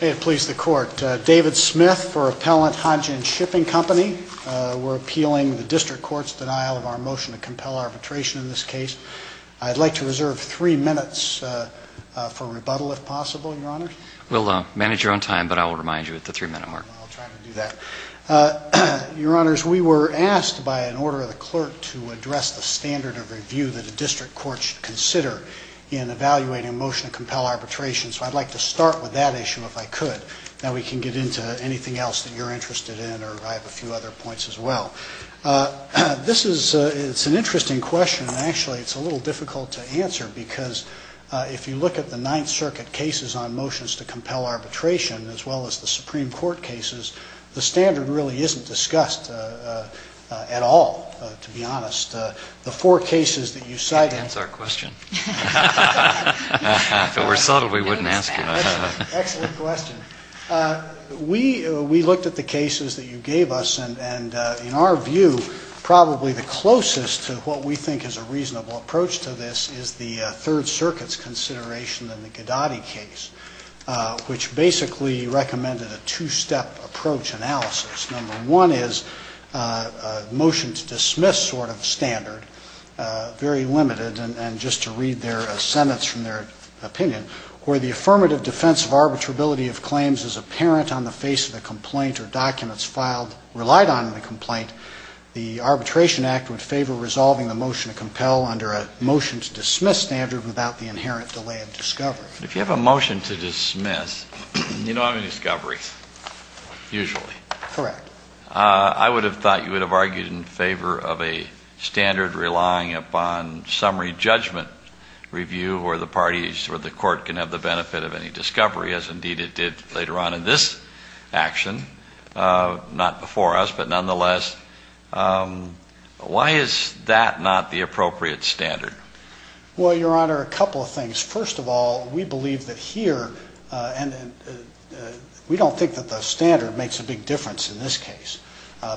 It pleases the Court. David Smith for Appellant Hanjin Shipping Company. We're appealing the District Court's denial of our motion to compel arbitration in this case. I'd like to reserve three minutes for rebuttal, if possible, Your Honors. We'll manage your own time, but I will remind you at the three-minute mark. I'll try to do that. Your Honors, we were asked by an order of the Clerk to address the standard of review that a District Court should consider in evaluating a motion to compel arbitration. So I'd like to start with that issue, if I could. Then we can get into anything else that you're interested in, or I have a few other points as well. This is an interesting question, and actually it's a little difficult to answer, because if you look at the Ninth Circuit cases on motions to compel arbitration, as well as the Supreme Court cases, the standard really isn't discussed at all, to be honest. The four cases that you cite in... Excellent question. We looked at the cases that you gave us, and in our view, probably the closest to what we think is a reasonable approach to this is the Third Circuit's consideration in the Gadotti case, which basically recommended a two-step approach analysis. Number one is a motion to dismiss sort of standard, very limited, and just to read their sentence from their opinion, where the affirmative defense of arbitrability of claims is apparent on the face of the complaint or documents filed, relied on in the complaint, the Arbitration Act would favor resolving the motion to compel under a motion to dismiss standard without the inherent delay of discovery. If you have a motion to dismiss, you don't have any discoveries, usually. Correct. I would have thought you would have argued in favor of a standard relying upon summary judgment review, where the parties, where the court can have the benefit of any discovery, as indeed it did later on in this action, not before us, but nonetheless. Why is that not the appropriate standard? Well, Your Honor, a couple of things. First of all, we believe that here, and we don't think that the standard makes a big difference in this case,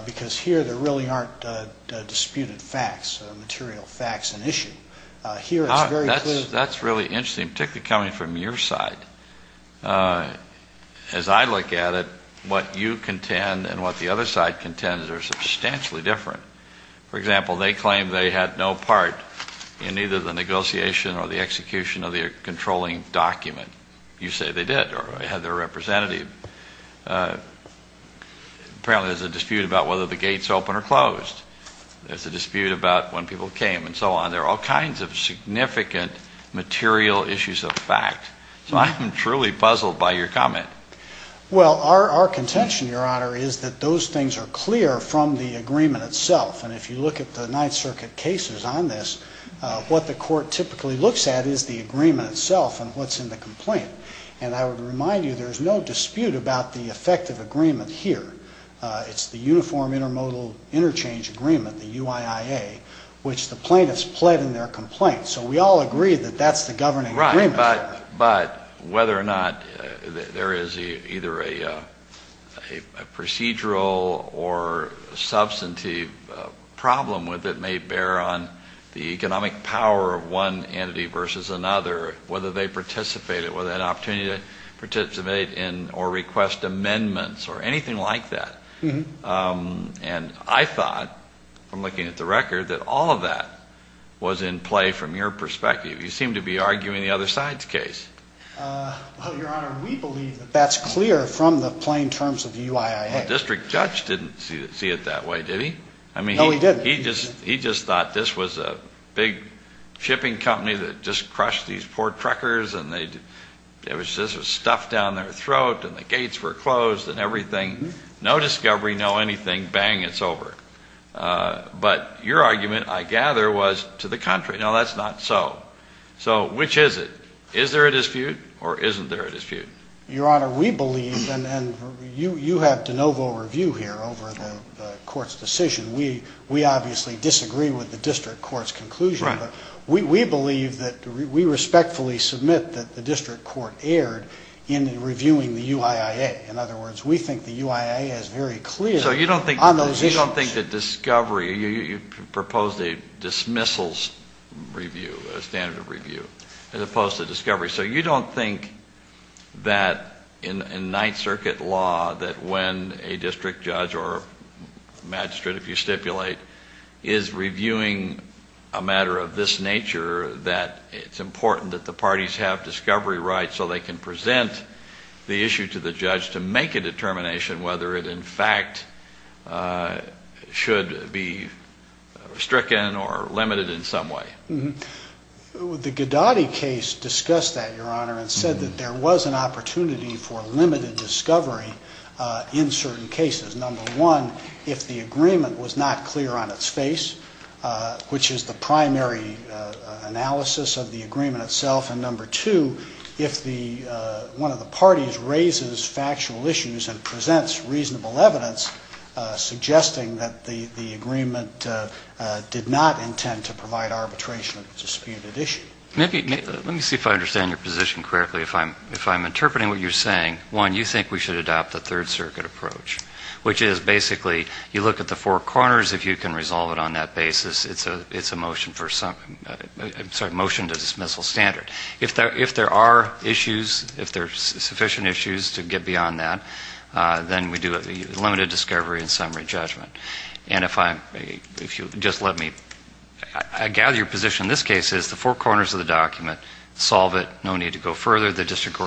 because here there really aren't disputed facts, material facts and issue. Here it's very clear that... That's really interesting, particularly coming from your side. As I look at it, what you contend and what the other side contends are substantially different. For example, they claim they had no part in either the negotiation or the execution of the controlling document. You say they did, or had their representative. Apparently there's a dispute about whether the gates opened or closed. There's a dispute about when people came and so on. There are all kinds of significant material issues of fact. So I'm truly puzzled by your comment. Well our contention, Your Honor, is that those things are clear from the agreement itself. And if you look at the Ninth Circuit cases on this, what the court typically looks at is the agreement itself and what's in the complaint. And I would remind you there's no dispute about the effective agreement here. It's the Uniform Intermodal Interchange Agreement, the UIIA, which the plaintiffs pled in their complaints. So we all agree that that's the governing agreement. But whether or not there is either a procedural or substantive problem with it may bear on the economic power of one entity versus another, whether they participated, whether they had an opportunity to participate in or request amendments or anything like that. And I thought, from looking at the record, that all of that was in play from your perspective. You seem to be arguing the other side's case. Well, Your Honor, we believe that that's clear from the plain terms of the UIIA. The district judge didn't see it that way, did he? No, he didn't. He just thought this was a big shipping company that just crushed these poor trekkers and they just stuffed down their throat and the gates were closed and everything, no discovery, no anything, bang, it's over. But your argument, I gather, was to the contrary. No, that's not so. So which is it? Is there a dispute or isn't there a dispute? Your Honor, we believe, and you have de novo review here over the Court's decision. We obviously disagree with the district court's conclusion. Right. We believe that, we respectfully submit that the district court erred in reviewing the UIIA. In other words, we think the UIIA is very clear on those issues. So you don't think that discovery, you proposed a dismissals review, a standard of review, as opposed to discovery. So you don't think that in Ninth Circuit law that when a district judge or magistrate, if you stipulate, is reviewing a matter of this nature that it's important that the parties have discovery rights so they can present the issue to the judge to make a determination whether it in fact should be stricken or limited in some way? The Gadotti case discussed that, Your Honor, and said that there was an opportunity for number one, if the agreement was not clear on its face, which is the primary analysis of the agreement itself, and number two, if one of the parties raises factual issues and presents reasonable evidence suggesting that the agreement did not intend to provide arbitration of a disputed issue. Let me see if I understand your position correctly. If I'm interpreting what you're saying, one, you think we should adopt the Third Circuit approach, which is basically you look at the four corners, if you can resolve it on that basis, it's a motion to dismissal standard. If there are issues, if there are sufficient issues to get beyond that, then we do a limited discovery and summary judgment. And if you'll just let me, I gather your position in this case is the four corners of the document, solve it, no need to go further, the district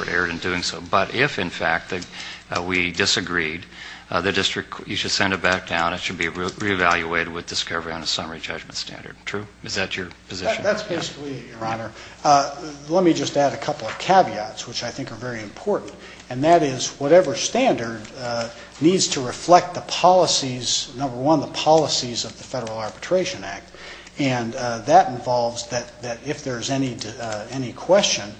we disagreed, the district, you should send it back down, it should be reevaluated with discovery on a summary judgment standard. True? Is that your position? That's basically it, Your Honor. Let me just add a couple of caveats, which I think are very important, and that is whatever standard needs to reflect the policies, number one, the policies of the Federal Arbitration Act, and that involves that if there's any question,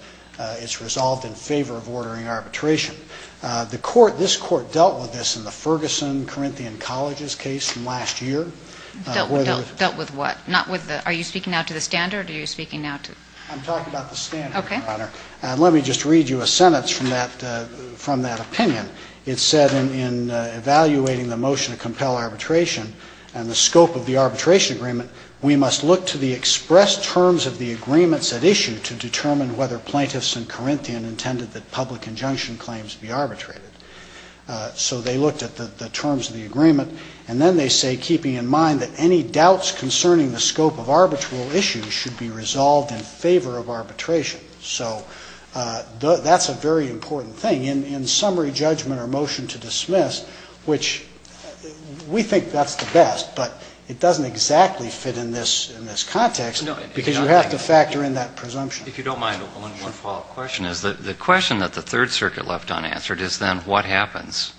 it's resolved in favor of ordering arbitration. The court, this court, dealt with this in the Ferguson Corinthian Colleges case from last year. Dealt with what? Not with the, are you speaking now to the standard, or are you speaking now to? I'm talking about the standard, Your Honor. Okay. Let me just read you a sentence from that opinion. It said in evaluating the motion to compel arbitration and the scope of the arbitration agreement, we must look to the plaintiffs in Corinthian intended that public injunction claims be arbitrated. So they looked at the terms of the agreement, and then they say keeping in mind that any doubts concerning the scope of arbitral issues should be resolved in favor of arbitration. So that's a very important thing. In summary judgment or motion to dismiss, which we think that's the best, but it doesn't exactly fit in this context because you have to factor in that presumption. If you don't mind, one follow-up question. The question that the Third Circuit left unanswered is then what happens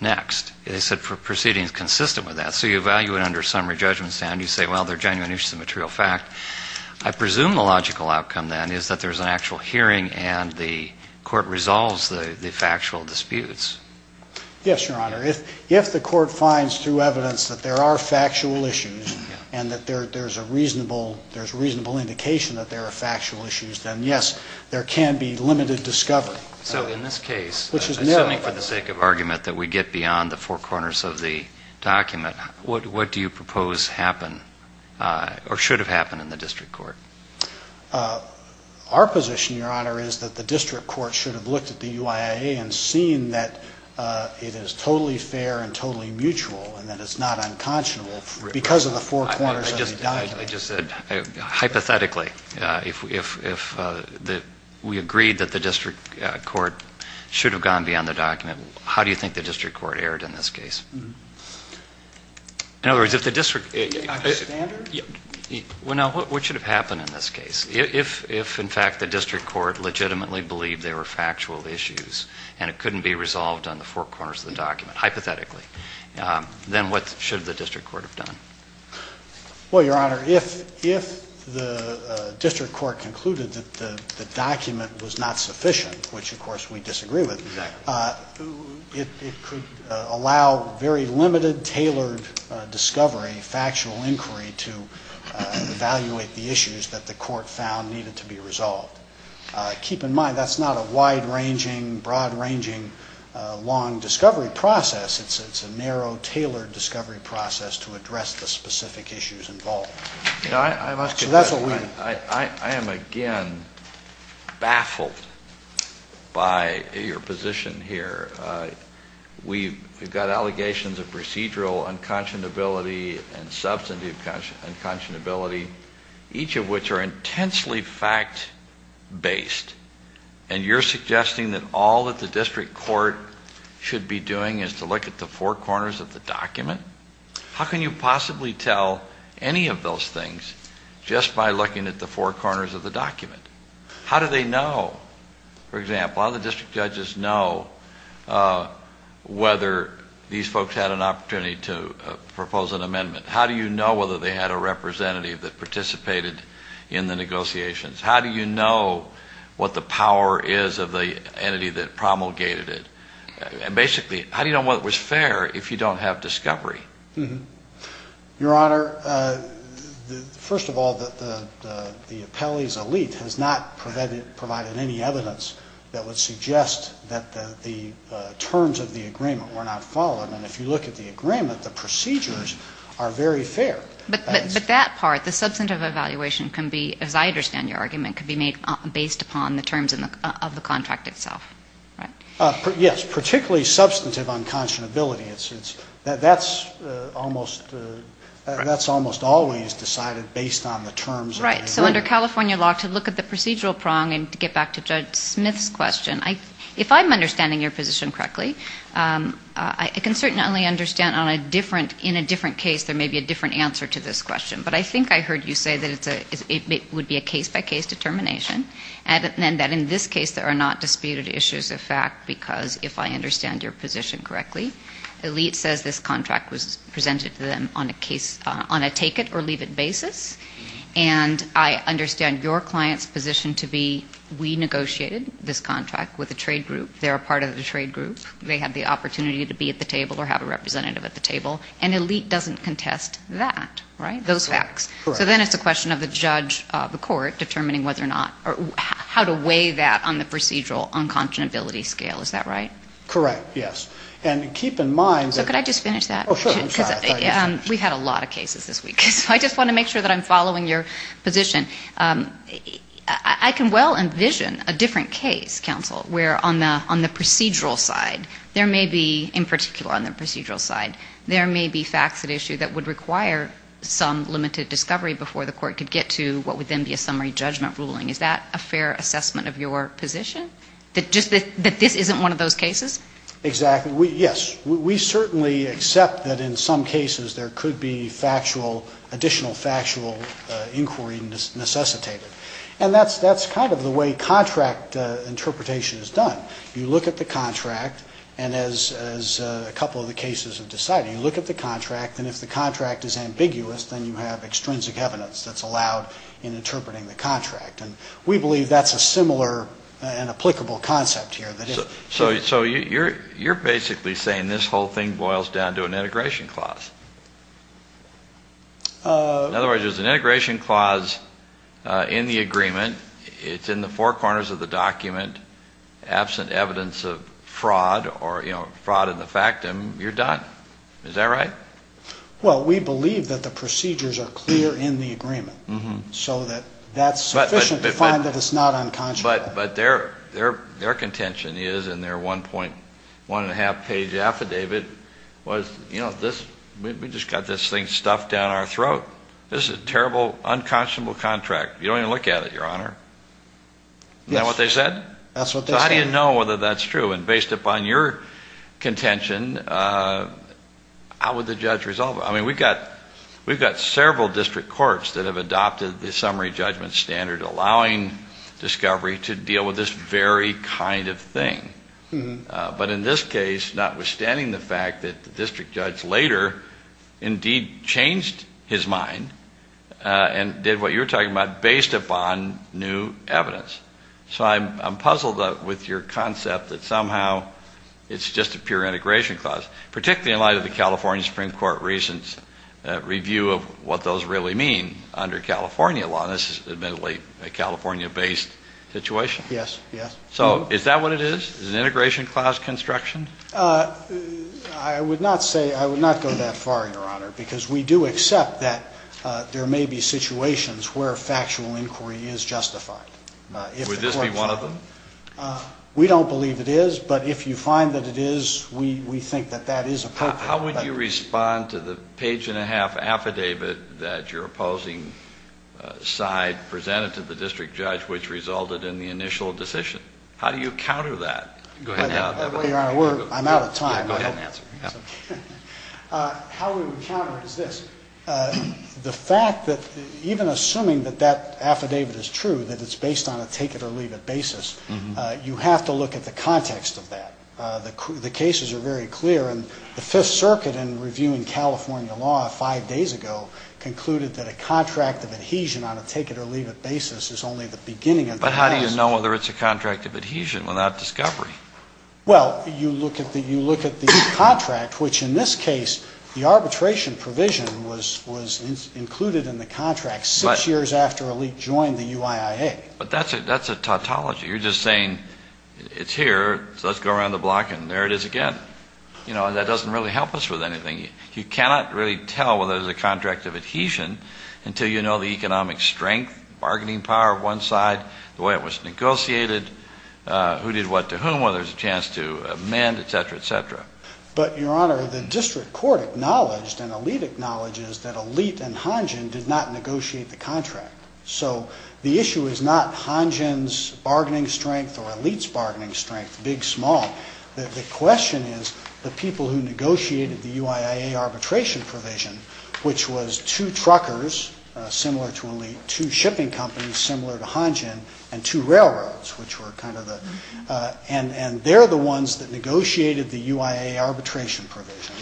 next? They said proceedings consistent with that. So you evaluate under summary judgment stand. You say, well, they're genuine issues of material fact. I presume the logical outcome then is that there's an actual hearing and the court resolves the factual disputes. Yes, Your Honor. If the court finds through evidence that there are factual issues and that there's a reasonable indication that there are factual issues, then yes, there can be limited discovery. So in this case, assuming for the sake of argument that we get beyond the four corners of the document, what do you propose happened or should have happened in the district court? Our position, Your Honor, is that the district court should have looked at the UIIA and seen that it is totally fair and totally mutual and that it's not unconscionable because of the four corners of the document. I just said, hypothetically, if we agreed that the district court should have gone beyond the document, how do you think the district court erred in this case? In other words, if the district court... Not the standard? Well, no, what should have happened in this case? If, in fact, the district court legitimately believed there were factual issues and it couldn't be resolved on the four corners of the document, hypothetically, then what should the district court have done? Well, Your Honor, if the district court concluded that the document was not sufficient, which of course we disagree with, it could allow very limited, tailored discovery, factual inquiry to evaluate the issues that the court found needed to be resolved. Keep in mind, that's not a wide-ranging, broad-ranging, long discovery process. It's a narrow, tailored discovery process to address the specific issues involved. I must confess, Your Honor, I am, again, baffled by your position here. We've got allegations of procedural unconscionability and substantive unconscionability, each of which are intensely fact-based, and you're suggesting that all that the district court should be doing is to look at the four corners of the document? How can you possibly tell any of those things just by looking at the four corners of the document? How do they know, for example, how the district judges know whether these folks had an opportunity to propose an amendment? How do you know whether they had a representative that participated in the negotiations? How do you know what the power is of the entity that promulgated it? And basically, how do you know whether it was fair if you don't have discovery? Your Honor, first of all, the appellee's elite has not provided any evidence that would suggest that the terms of the agreement were not followed. And if you look at the agreement, the procedures are very fair. But that part, the substantive evaluation can be, as I understand your argument, can be made based upon the terms of the contract itself, right? Yes, particularly substantive unconscionability. That's almost always decided based on the terms of the agreement. Right. So under California law, to look at the procedural prong and to get back to Judge Smith's question, if I'm understanding your position correctly, I can certainly understand in a different case there may be a different answer to this question. But I think I heard you say that it would be a case-by-case determination, and that in this case there are not disputed issues of fact, because if I understand your position correctly, elite says this contract was presented to them on a take-it-or-leave-it basis. And I understand your client's position to be we negotiated this contract with a trade group. They're a part of the trade group. They had the opportunity to be at the table or have a representative at the table. And elite doesn't contest that, right? Those facts. Correct. So then it's a question of the judge, the court, determining whether or not or how to weigh that on the procedural unconscionability scale. Is that right? Correct, yes. And keep in mind that... So could I just finish that? Oh, sure. I'm sorry. I thought you were finished. We've had a lot of cases this week, so I just want to make sure that I'm following your position. I can well envision a different case, counsel, where on the procedural side there may be, in particular on the procedural side, there may be facts at issue that would require some limited discovery before the court could get to what would then be a summary judgment ruling. Is that a fair assessment of your position? That this isn't one of those cases? Exactly. Yes. We certainly accept that in some cases there could be additional factual inquiry necessitated. And that's kind of the way contract interpretation is done. You look at the contract, and as a couple of the cases have decided, you look at the contract, and if the contract is ambiguous, then you have extrinsic evidence that's allowed in interpreting the contract. And we believe that's a similar and applicable concept here. So you're basically saying this whole thing boils down to an integration clause? In other words, there's an integration clause in the agreement. It's in the four corners of the fraud or, you know, fraud in the factum. You're done. Is that right? Well, we believe that the procedures are clear in the agreement. So that's sufficient to find that it's not unconscionable. But their contention is, in their 1.1 and a half page affidavit, was, you know, we just got this thing stuffed down our throat. This is a terrible, unconscionable contract. You don't even look at it, Your Honor. Isn't that what they said? Yes. That's what they said. I don't even know whether that's true. And based upon your contention, how would the judge resolve it? I mean, we've got several district courts that have adopted the summary judgment standard, allowing discovery to deal with this very kind of thing. But in this case, notwithstanding the fact that the district judge later indeed changed his mind and did what you're talking about, based upon new evidence. So I'm puzzled with your concept that somehow it's just a pure integration clause, particularly in light of the California Supreme Court recent review of what those really mean under California law. And this is admittedly a California-based situation. Yes. Yes. So is that what it is? Is it an integration clause construction? I would not say, I would not go that far, Your Honor, because we do accept that there is where factual inquiry is justified. Would this be one of them? We don't believe it is. But if you find that it is, we think that that is appropriate. How would you respond to the page-and-a-half affidavit that your opposing side presented to the district judge, which resulted in the initial decision? How do you counter that? Go ahead and have it. Well, Your Honor, we're — I'm out of time. Go ahead and answer. How we would counter it is this. The fact that — even assuming that that affidavit is true, that it's based on a take-it-or-leave-it basis, you have to look at the context of that. The cases are very clear. And the Fifth Circuit, in reviewing California law five days ago, concluded that a contract of adhesion on a take-it-or-leave-it basis is only the beginning of the process. But how do you know whether it's a contract of adhesion without discovery? Well, you look at the contract, which in this case, the arbitration provision was included in the contract six years after a leak joined the UIIA. But that's a tautology. You're just saying, it's here, so let's go around the block and there it is again. You know, that doesn't really help us with anything. You cannot really tell whether it's a contract of adhesion until you know the economic strength, bargaining power of one side, the way it was negotiated, who did what to whom, whether there's a chance to amend, et cetera, et cetera. But, Your Honor, the district court acknowledged, and Alit acknowledges, that Alit and Hanjin did not negotiate the contract. So the issue is not Hanjin's bargaining strength or Alit's bargaining strength, big, small. The question is the people who negotiated the UIIA arbitration provision, which was two truckers, similar to Alit, two shipping companies, similar to Hanjin, and two railroads, which were kind of the, and they're the ones that negotiated the UIIA arbitration provision.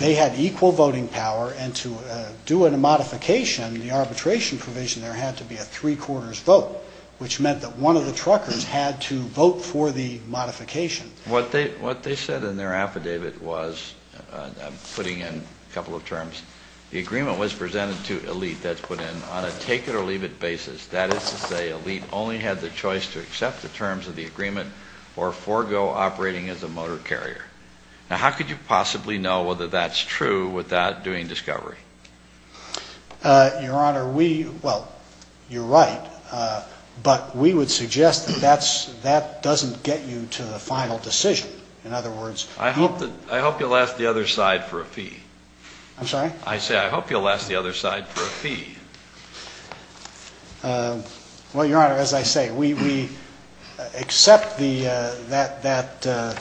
They had equal voting power, and to do a modification, the arbitration provision, there had to be a three-quarters vote, which meant that one of the truckers had to vote for the modification. What they said in their affidavit was, putting in a couple of terms, the agreement was presented to Alit that's put in on a take-it-or-leave-it basis. That is to say, Alit only had the choice to accept the terms of the agreement or forego operating as a motor carrier. Now, how could you possibly know whether that's true without doing discovery? Your Honor, we, well, you're right, but we would suggest that that doesn't get you to the final decision. In other words, I hope that, I hope you'll ask the other side for a fee. I'm sorry? I say, I hope you'll ask the other side for a fee. Well, Your Honor, as I say, we, we accept the, that, that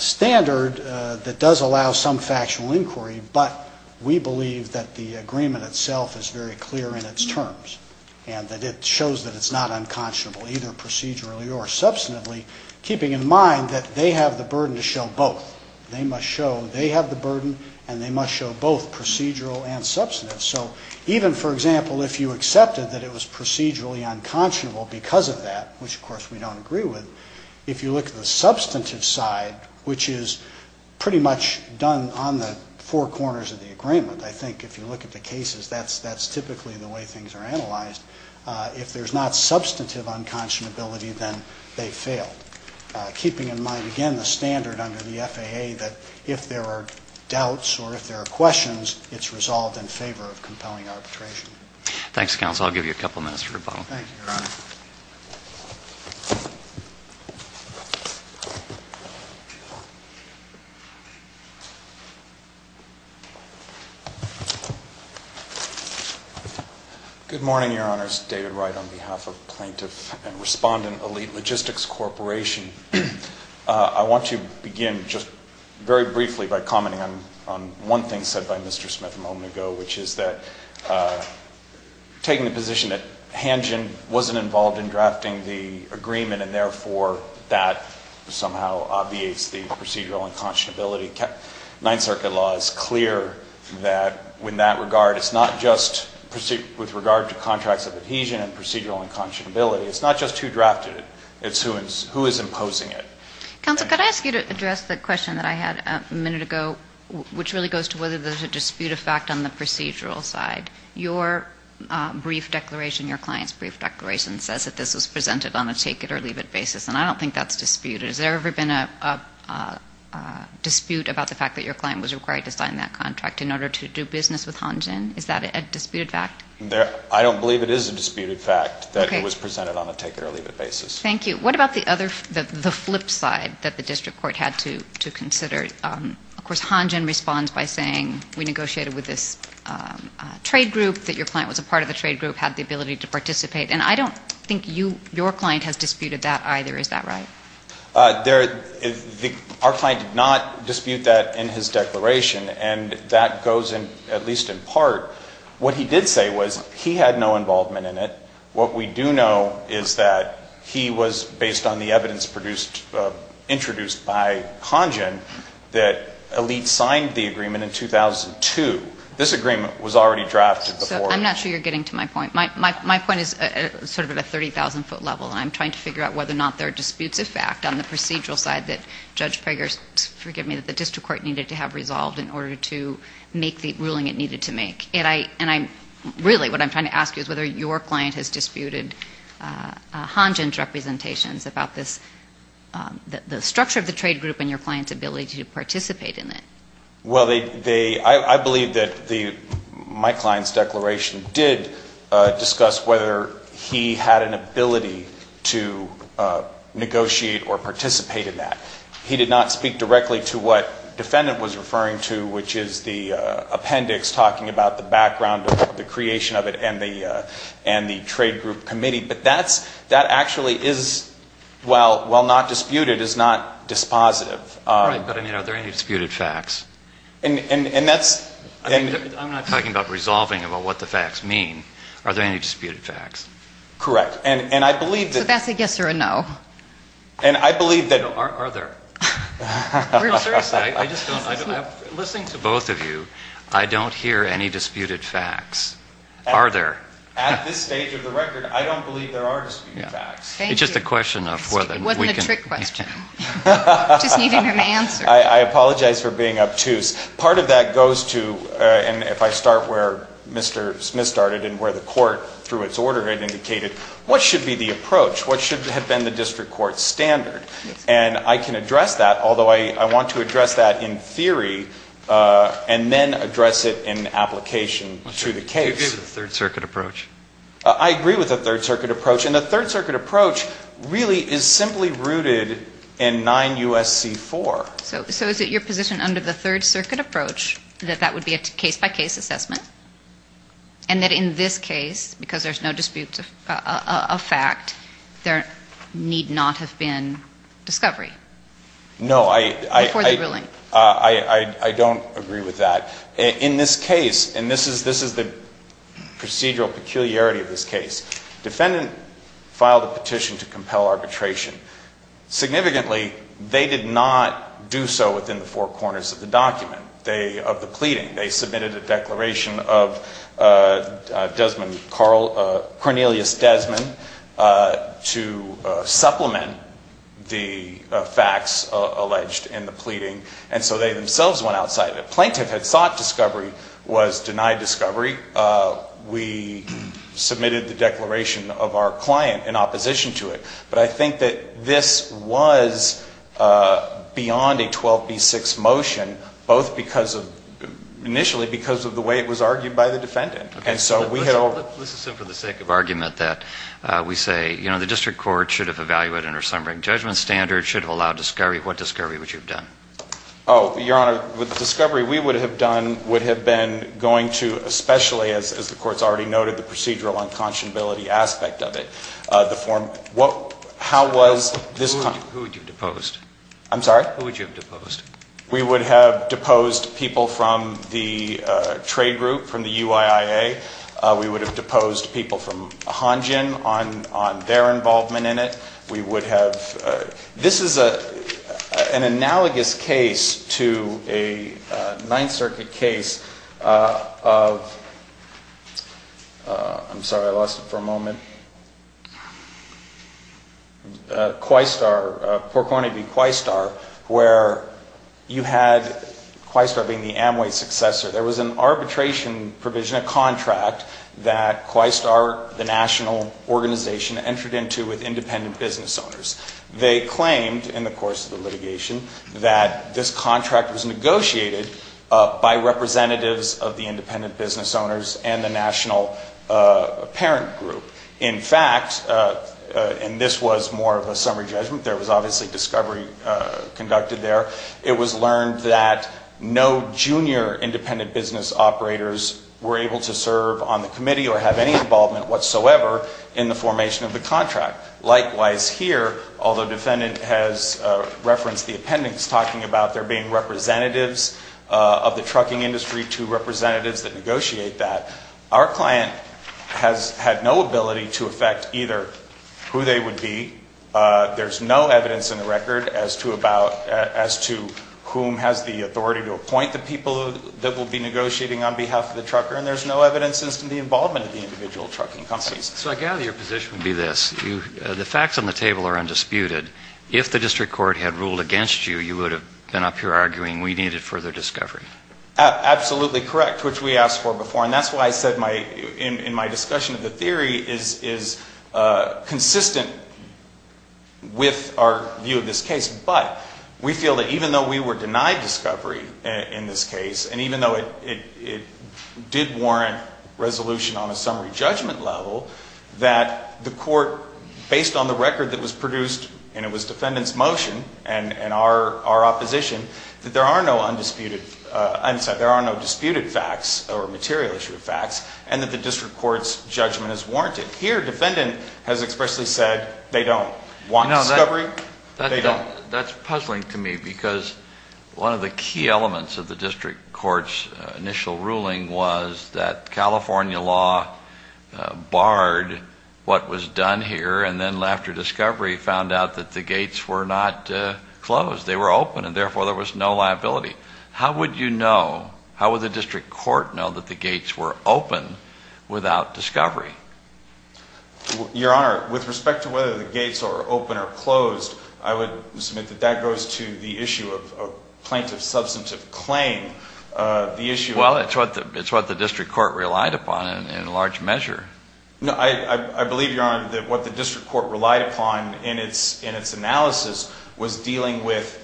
standard that does allow some factional inquiry, but we believe that the agreement itself is very clear in its terms, and that it shows that it's not unconscionable, either procedurally or substantively, keeping in mind that they have the burden to show both. They must show, they have the burden and they must show both procedural and substantive. So even, for example, if you accepted that it was procedurally unconscionable because of that, which, of course, we don't agree with, if you look at the substantive side, which is pretty much done on the four corners of the agreement, I think if you look at the cases, that's, that's typically the way things are analyzed, if there's not substantive unconscionability, then they've failed, keeping in mind, again, the standard under the FAA that if there are doubts or if there are questions, it's resolved in favor of compelling arbitration. Thanks, counsel. I'll give you a couple minutes for rebuttal. Thank you, Your Honor. Good morning, Your Honors. David Wright on behalf of Plaintiff and Respondent Elite Logistics Corporation. I want to begin just very briefly by commenting on, on one thing said by Mr. Smith a moment ago, which is that taking the position that Hangen wasn't involved in drafting the agreement and therefore that somehow obviates the procedural unconscionability, Ninth Circuit law is clear that in that regard, it's not just with regard to contracts of adhesion and procedural unconscionability, it's not just who drafted it, it's who is imposing it. Counsel, could I ask you to address the question that I had a minute ago, which really goes to whether there's a dispute of fact on the procedural side. Your brief declaration, your client's brief declaration, says that this was presented on a take-it-or-leave-it basis, and I don't think that's disputed. Has there ever been a dispute about the fact that your client was required to sign that contract in order to do business with Hangen? Is that a disputed fact? I don't believe it is a disputed fact that it was presented on a take-it-or-leave-it basis. Thank you. What about the other, the flip side that the district court had to, to consider? Of course, Hangen responds by saying, we negotiated with this trade group, that your client was a part of the trade group, had the ability to participate, and I don't think you, your client has disputed that either. Is that right? There, the, our client did not dispute that in his declaration, and that goes in, at least in part. What he did say was, he had no involvement in it. What we do know is that he was, based on the evidence produced, introduced by Hangen, that Elite signed the agreement in 2002. This agreement was already drafted before. So, I'm not sure you're getting to my point. My, my, my point is sort of at a 30,000-foot level, and I'm trying to figure out whether or not there are disputes of fact on the procedural side that Judge Prager's, forgive me, that the district court needed to have resolved in order to make the ruling it needed to make. And I, and I'm, really, what I'm trying to ask you is whether your client has disputed Hangen's representations about this, the, the structure of the trade group and your client's ability to participate in it. Well, they, they, I, I believe that the, my client's declaration did discuss whether he had an ability to negotiate or participate in that. He did not speak directly to what defendant was referring to, which is the appendix talking about the background of the creation of it and the, and the trade group committee. But that's, that actually is, while, while not disputed, is not dispositive. Right. But, I mean, are there any disputed facts? And, and, and that's I mean, I'm not talking about resolving about what the facts mean. Are there any disputed facts? Correct. And, and I believe So that's a yes or a no. And I believe that Are, are there? No, sir. I, I just don't, I don't, I'm listening to both of you. I don't hear any disputed facts. Are there? At this stage of the record, I don't believe there are disputed facts. Thank you. It's just a question of whether It wasn't a trick question. I, I apologize for being obtuse. Part of that goes to, and if I start where Mr. Smith started and where the court, through its order, had indicated, what should be the approach? What should have been the district court's standard? And I can address that, although I, I want to address that in theory, and then address it in application to the case. I agree with the Third Circuit approach. I agree with the Third Circuit approach. And the Third Circuit approach really is simply rooted in 9 U.S.C. 4. So, so is it your position under the Third Circuit approach that that would be a case-by-case assessment? And that in this case, because there's no dispute of fact, there need not have been discovery? No, I, I, I, I, I don't agree with that. In this case, and this is, this is the procedural peculiarity of this case. Defendant filed a petition to compel arbitration. Significantly, they did not do so within the four corners of the document. They, of the pleading, they submitted a declaration of Desmond Carl, Cornelius Desmond, to supplement the facts alleged in the pleading, and so they themselves went outside of it. Plaintiff had sought discovery, was denied discovery. We submitted the declaration of our client in opposition to it. But I think that this was beyond a 12B6 motion, both because of, initially because of the way it was argued by the defendant. And so we had all Let's, let's assume for the sake of argument that we say, you know, the district court should have evaluated under some rank judgment standard, should have allowed discovery. What discovery would you have done? Oh, Your Honor, with discovery, we would have done, would have been going to, especially as, as the Court's already noted, the procedural unconscionability aspect of it. The form, what, how was this Who would you have deposed? I'm sorry? Who would you have deposed? We would have deposed people from the trade group, from the UIIA. We would have deposed people from Hanjin on, on their involvement in it. We would have, this is a, an analogous case to a Ninth Circuit case of, I'm sorry, I lost it for a moment, Quistar, Port Cornyby and Quistar, where you had, Quistar being the Amway successor, there was an arbitration provision, a contract that Quistar, the national organization, entered into with independent business owners. They claimed in the course of the litigation that this contract was negotiated by representatives of the independent business owners and the national parent group. In fact, and this was more of a summary judgment, there was obviously discovery conducted there, it was learned that no junior independent business operators were able to serve on the committee or have any involvement whatsoever in the formation of the contract. Likewise here, although the defendant has referenced the appendix talking about there being representatives of the trucking industry to representatives that negotiate that, our client has had no ability to affect either who they would be. There's no evidence in the record as to about, as to whom has the authority to appoint the people that will be negotiating on behalf of the trucker, and there's no evidence as to the involvement of the individual trucking companies. So I gather your position would be this. You, the facts on the table are undisputed. If the district court had ruled against you, you would have been up here arguing we needed further discovery. Absolutely correct, which we asked for before, and that's why I said my, in, in my discussion of the theory is, is consistent with our view of this case, but we feel that even though we were denied discovery in this case, and even though it, it, it did warrant resolution on a summary judgment level, that the court, based on the record that was produced, and it was defendant's motion and, and our, our opposition, that there are no undisputed, I'm sorry, there are no disputed facts or material issue of facts, and that the district court's judgment is warranted. Here, defendant has expressly said they don't want discovery. They don't. That's puzzling to me, because one of the key elements of the district court's initial ruling was that California law barred what was done here, and then after discovery found out that the gates were not closed. They were open, and therefore there was no liability. How would you know, how would the district court know that the gates were open without discovery? Your Honor, with respect to whether the gates are open or closed, I would submit that that goes to the issue of, of plaintiff's substantive claim. The issue of... Well, it's what the, it's what the district court relied upon in, in large measure. No, I, I, I believe, Your Honor, that what the district court relied upon in its, in its dealing with,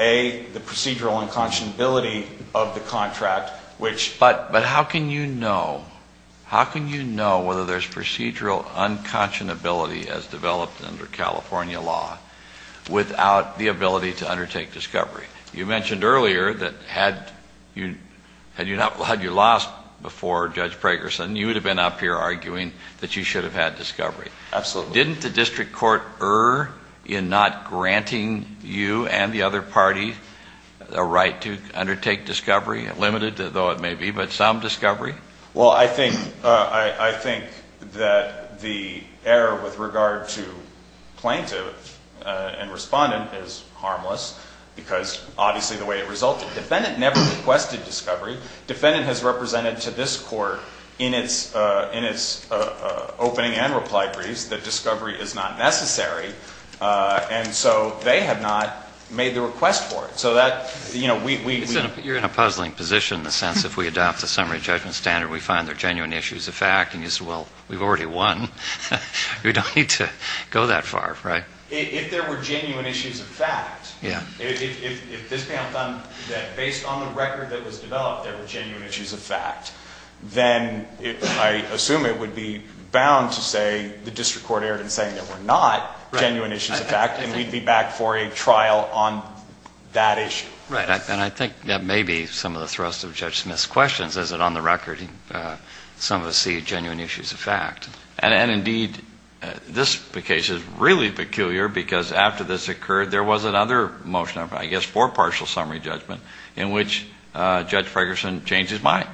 A, the procedural unconscionability of the contract, which... But, but how can you know, how can you know whether there's procedural unconscionability as developed under California law without the ability to undertake discovery? You mentioned earlier that had you, had you not, had you lost before Judge Pragerson, you would have been up here arguing that you should have had discovery. Absolutely. So didn't the district court err in not granting you and the other party a right to undertake discovery, limited, though it may be, but some discovery? Well, I think, I, I think that the error with regard to plaintiff and respondent is harmless because obviously the way it resulted. Defendant never requested discovery. Defendant has represented to this court in its, in its opening and reply briefs that discovery is not necessary. And so they have not made the request for it. So that, you know, we, we... You're in a puzzling position in the sense if we adopt the summary judgment standard, we find there are genuine issues of fact, and you say, well, we've already won. We don't need to go that far, right? If there were genuine issues of fact, if, if, if this panel found that based on the issues of fact, then it, I assume it would be bound to say the district court erred in saying there were not genuine issues of fact, and we'd be back for a trial on that issue. Right. And I think that may be some of the thrust of Judge Smith's questions is that on the record, some of us see genuine issues of fact. And indeed, this case is really peculiar because after this occurred, there was another motion I guess for partial summary judgment in which Judge Fragerson changed his mind,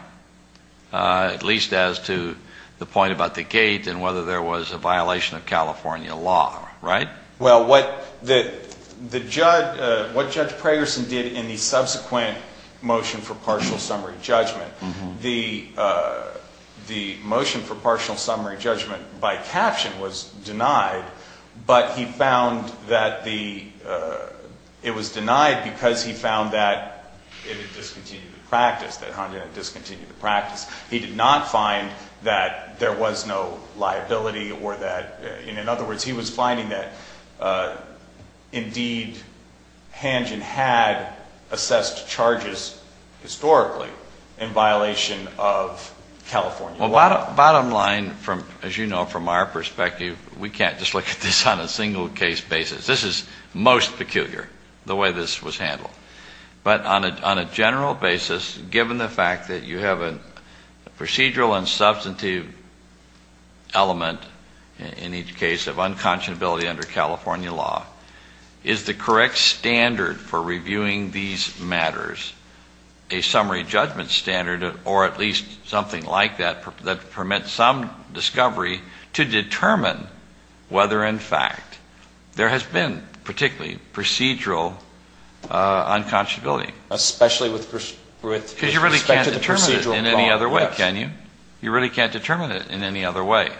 at least as to the point about the gate and whether there was a violation of California law, right? Well, what the, the judge, what Judge Fragerson did in the subsequent motion for partial summary judgment, the, the motion for partial summary judgment by caption was denied, but he found that the, it was denied because he found that it had discontinued the practice, that Hangen had discontinued the practice. He did not find that there was no liability or that, in other words, he was finding that indeed, Hangen had assessed charges historically in violation of California law. Well, bottom, bottom line from, as you know, from our perspective, we can't just look at this on a single case basis. This is most peculiar, the way this was handled. But on a, on a general basis, given the fact that you have a procedural and substantive element in each case of unconscionability under California law, is the correct standard for reviewing these matters a summary judgment standard or at least something like that, that permits some discovery to determine whether, in fact, there has been particularly procedural unconscionability. Especially with respect to the procedural problem, yes. Because you really can't determine it in any other way, can you? You really can't determine it in any other way.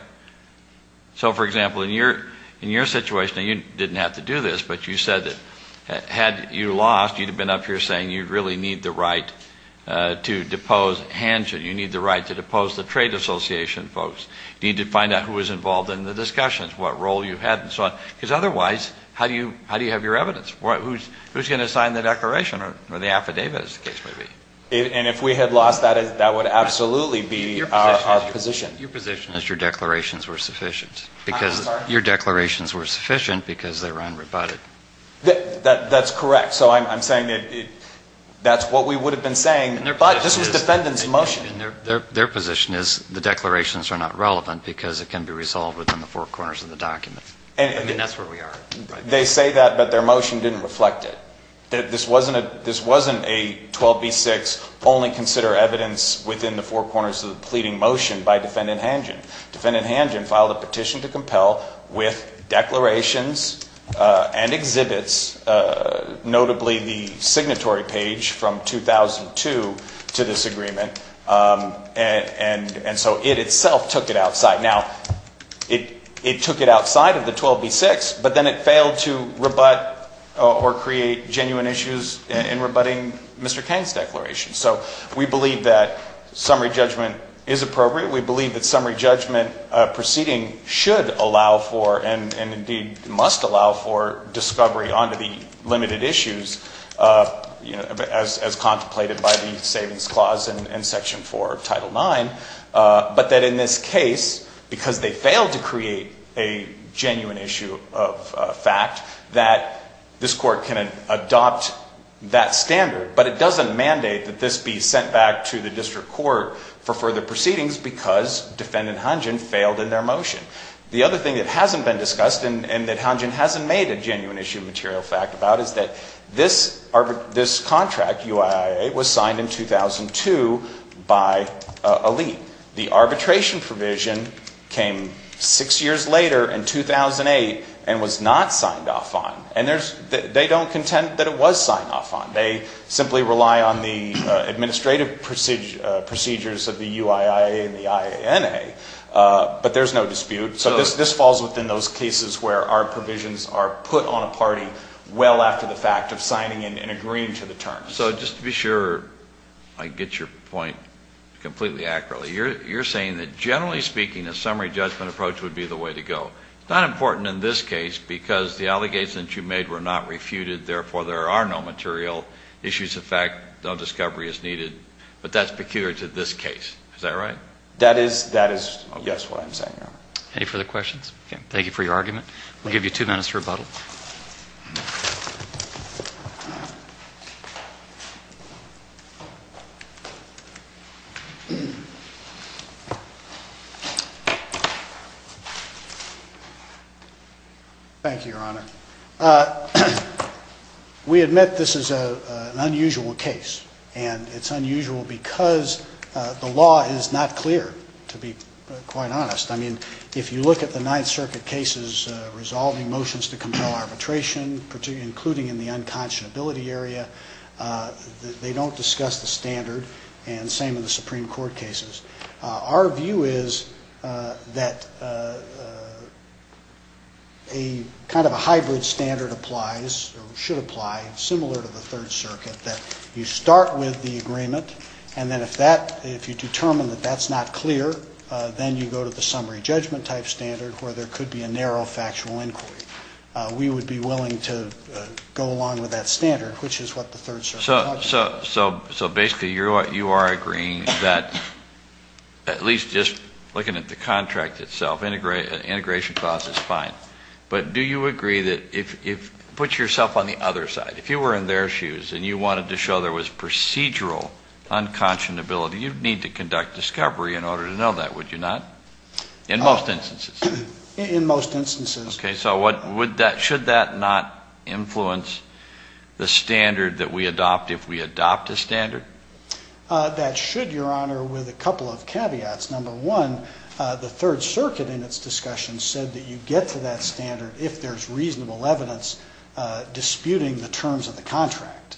So, for example, in your, in your situation, and you didn't have to do this, but you said that had you lost, you'd have been up here saying you really need the right to depose the trade association folks, need to find out who was involved in the discussions, what role you had, and so on. Because otherwise, how do you, how do you have your evidence? Who's, who's going to sign the declaration or the affidavit, as the case may be? And if we had lost that, that would absolutely be our position. Your position is your declarations were sufficient, because your declarations were sufficient because they were unrebutted. That's correct. So I'm saying that that's what we would have been saying, but this was their, their position is the declarations are not relevant because it can be resolved within the four corners of the document. I mean, that's where we are. They say that, but their motion didn't reflect it. This wasn't a, this wasn't a 12b-6 only consider evidence within the four corners of the pleading motion by Defendant Hangen. Defendant Hangen filed a petition to compel with declarations and exhibits, notably the 12b-6, and so it itself took it outside. Now, it, it took it outside of the 12b-6, but then it failed to rebut or create genuine issues in rebutting Mr. Cain's declaration. So we believe that summary judgment is appropriate. We believe that summary judgment proceeding should allow for, and indeed must allow for, discovery onto the limited issues, you know, as contemplated by the Savings Clause and Section 4 of Title IX, but that in this case, because they failed to create a genuine issue of fact, that this Court can adopt that standard, but it doesn't mandate that this be sent back to the District Court for further proceedings because Defendant Hangen failed in their motion. The other thing that hasn't been discussed and that Hangen hasn't made a genuine issue of material fact about is that this, this contract, UIIA, was signed in 2002 by a lead. The arbitration provision came six years later in 2008 and was not signed off on, and there's, they don't contend that it was signed off on. They simply rely on the administrative procedures of the UIIA and the IANA, but there's no dispute. So this falls within those cases where our provisions are put on a party well after the fact of signing and agreeing to the terms. So just to be sure I get your point completely accurately, you're saying that generally speaking a summary judgment approach would be the way to go. It's not important in this case because the allegations that you made were not refuted, therefore there are no material issues of fact, no discovery is needed, but that's peculiar to this case. Is that right? That is, that is, yes, what I'm saying, Your Honor. Any further questions? Thank you for your argument. We'll give you two minutes to rebuttal. Thank you, Your Honor. We admit this is an unusual case, and it's unusual because the if you look at the Ninth Circuit cases resolving motions to compel arbitration, including in the unconscionability area, they don't discuss the standard, and same in the Supreme Court cases. Our view is that a kind of a hybrid standard applies, or should apply, similar to the Third Circuit, that you start with the agreement, and then if that, if you determine that that's not clear, then you go to the summary judgment type standard, where there could be a narrow factual inquiry. We would be willing to go along with that standard, which is what the Third Circuit... So basically you are agreeing that, at least just looking at the contract itself, integration clause is fine, but do you agree that if, put yourself on the other side, if you were in their shoes and you wanted to show there was procedural unconscionability, you'd need to conduct discovery in order to know that, would you not? In most instances. In most instances. Okay, so should that not influence the standard that we adopt if we adopt a standard? That should, Your Honor, with a couple of caveats. Number one, the Third Circuit in its discussion said that you get to that standard if there's reasonable evidence disputing the terms of the contract.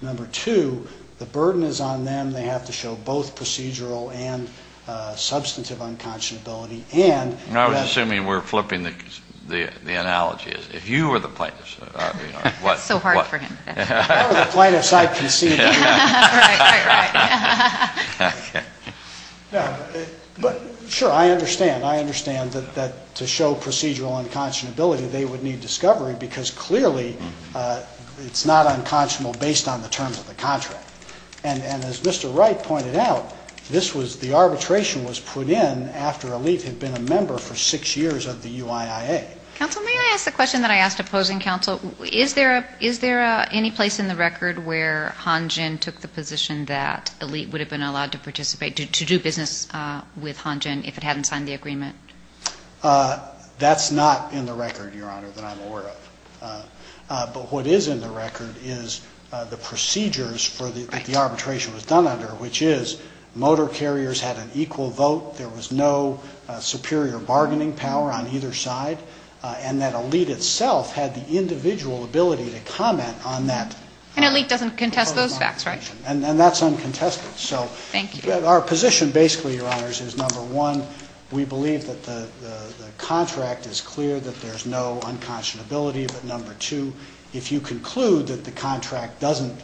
Number two, the burden is on them. They have to show both procedural and substantive unconscionability, and that's... I was assuming we were flipping the analogy. If you were the plaintiff's, I mean, what... It's so hard for him. If I were the plaintiff's, I'd concede that you... Right, right, right. But sure, I understand. I understand that to show procedural unconscionability, they it's not unconscionable based on the terms of the contract. And as Mr. Wright pointed out, this was, the arbitration was put in after Elite had been a member for six years of the UIIA. Counsel, may I ask the question that I asked opposing counsel? Is there any place in the record where Han Jin took the position that Elite would have been allowed to participate, to do business with Han Jin if it hadn't signed the agreement? That's not in the record, Your Honor, that I'm aware of. But what is in the record is the procedures for the arbitration was done under, which is motor carriers had an equal vote, there was no superior bargaining power on either side, and that Elite itself had the individual ability to comment on that. And Elite doesn't contest those facts, right? And that's uncontested, so... Thank you. Our position basically, Your Honors, is number one, we believe that the contract is clear, that there's no unconscionability, but number two, if you conclude that the contract doesn't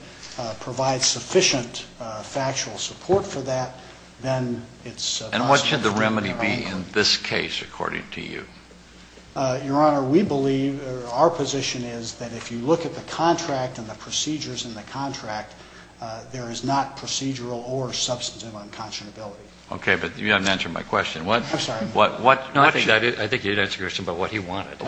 provide sufficient factual support for that, then it's... And what should the remedy be in this case, according to you? Your Honor, we believe, our position is that if you look at the contract and the procedures in the contract, there is not procedural or substantive unconscionability. Okay, but you haven't answered my question. I'm sorry. What should... No, I think you didn't answer the question about what he wanted. I'm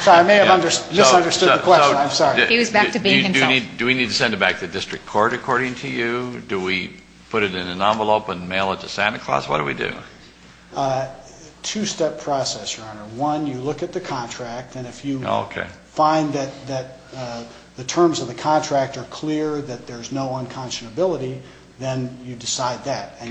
sorry, I may have misunderstood the question. I'm sorry. He was back to being himself. Do we need to send it back to the district court, according to you? Do we put it in an envelope and mail it to Santa Claus? What do we do? Two-step process, Your Honor. One, you look at the contract, and if you find that the terms of the contract are clear, that there's no unconscionability, then you decide that. And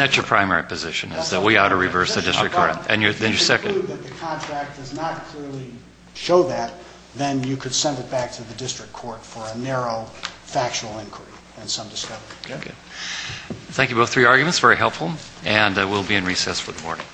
that's your primary position, is that we ought to reverse the district court. If you conclude that the contract does not clearly show that, then you could send it back to the district court for a narrow factual inquiry and some discovery. Thank you both for your arguments. Very helpful. And we'll be in recess for the morning.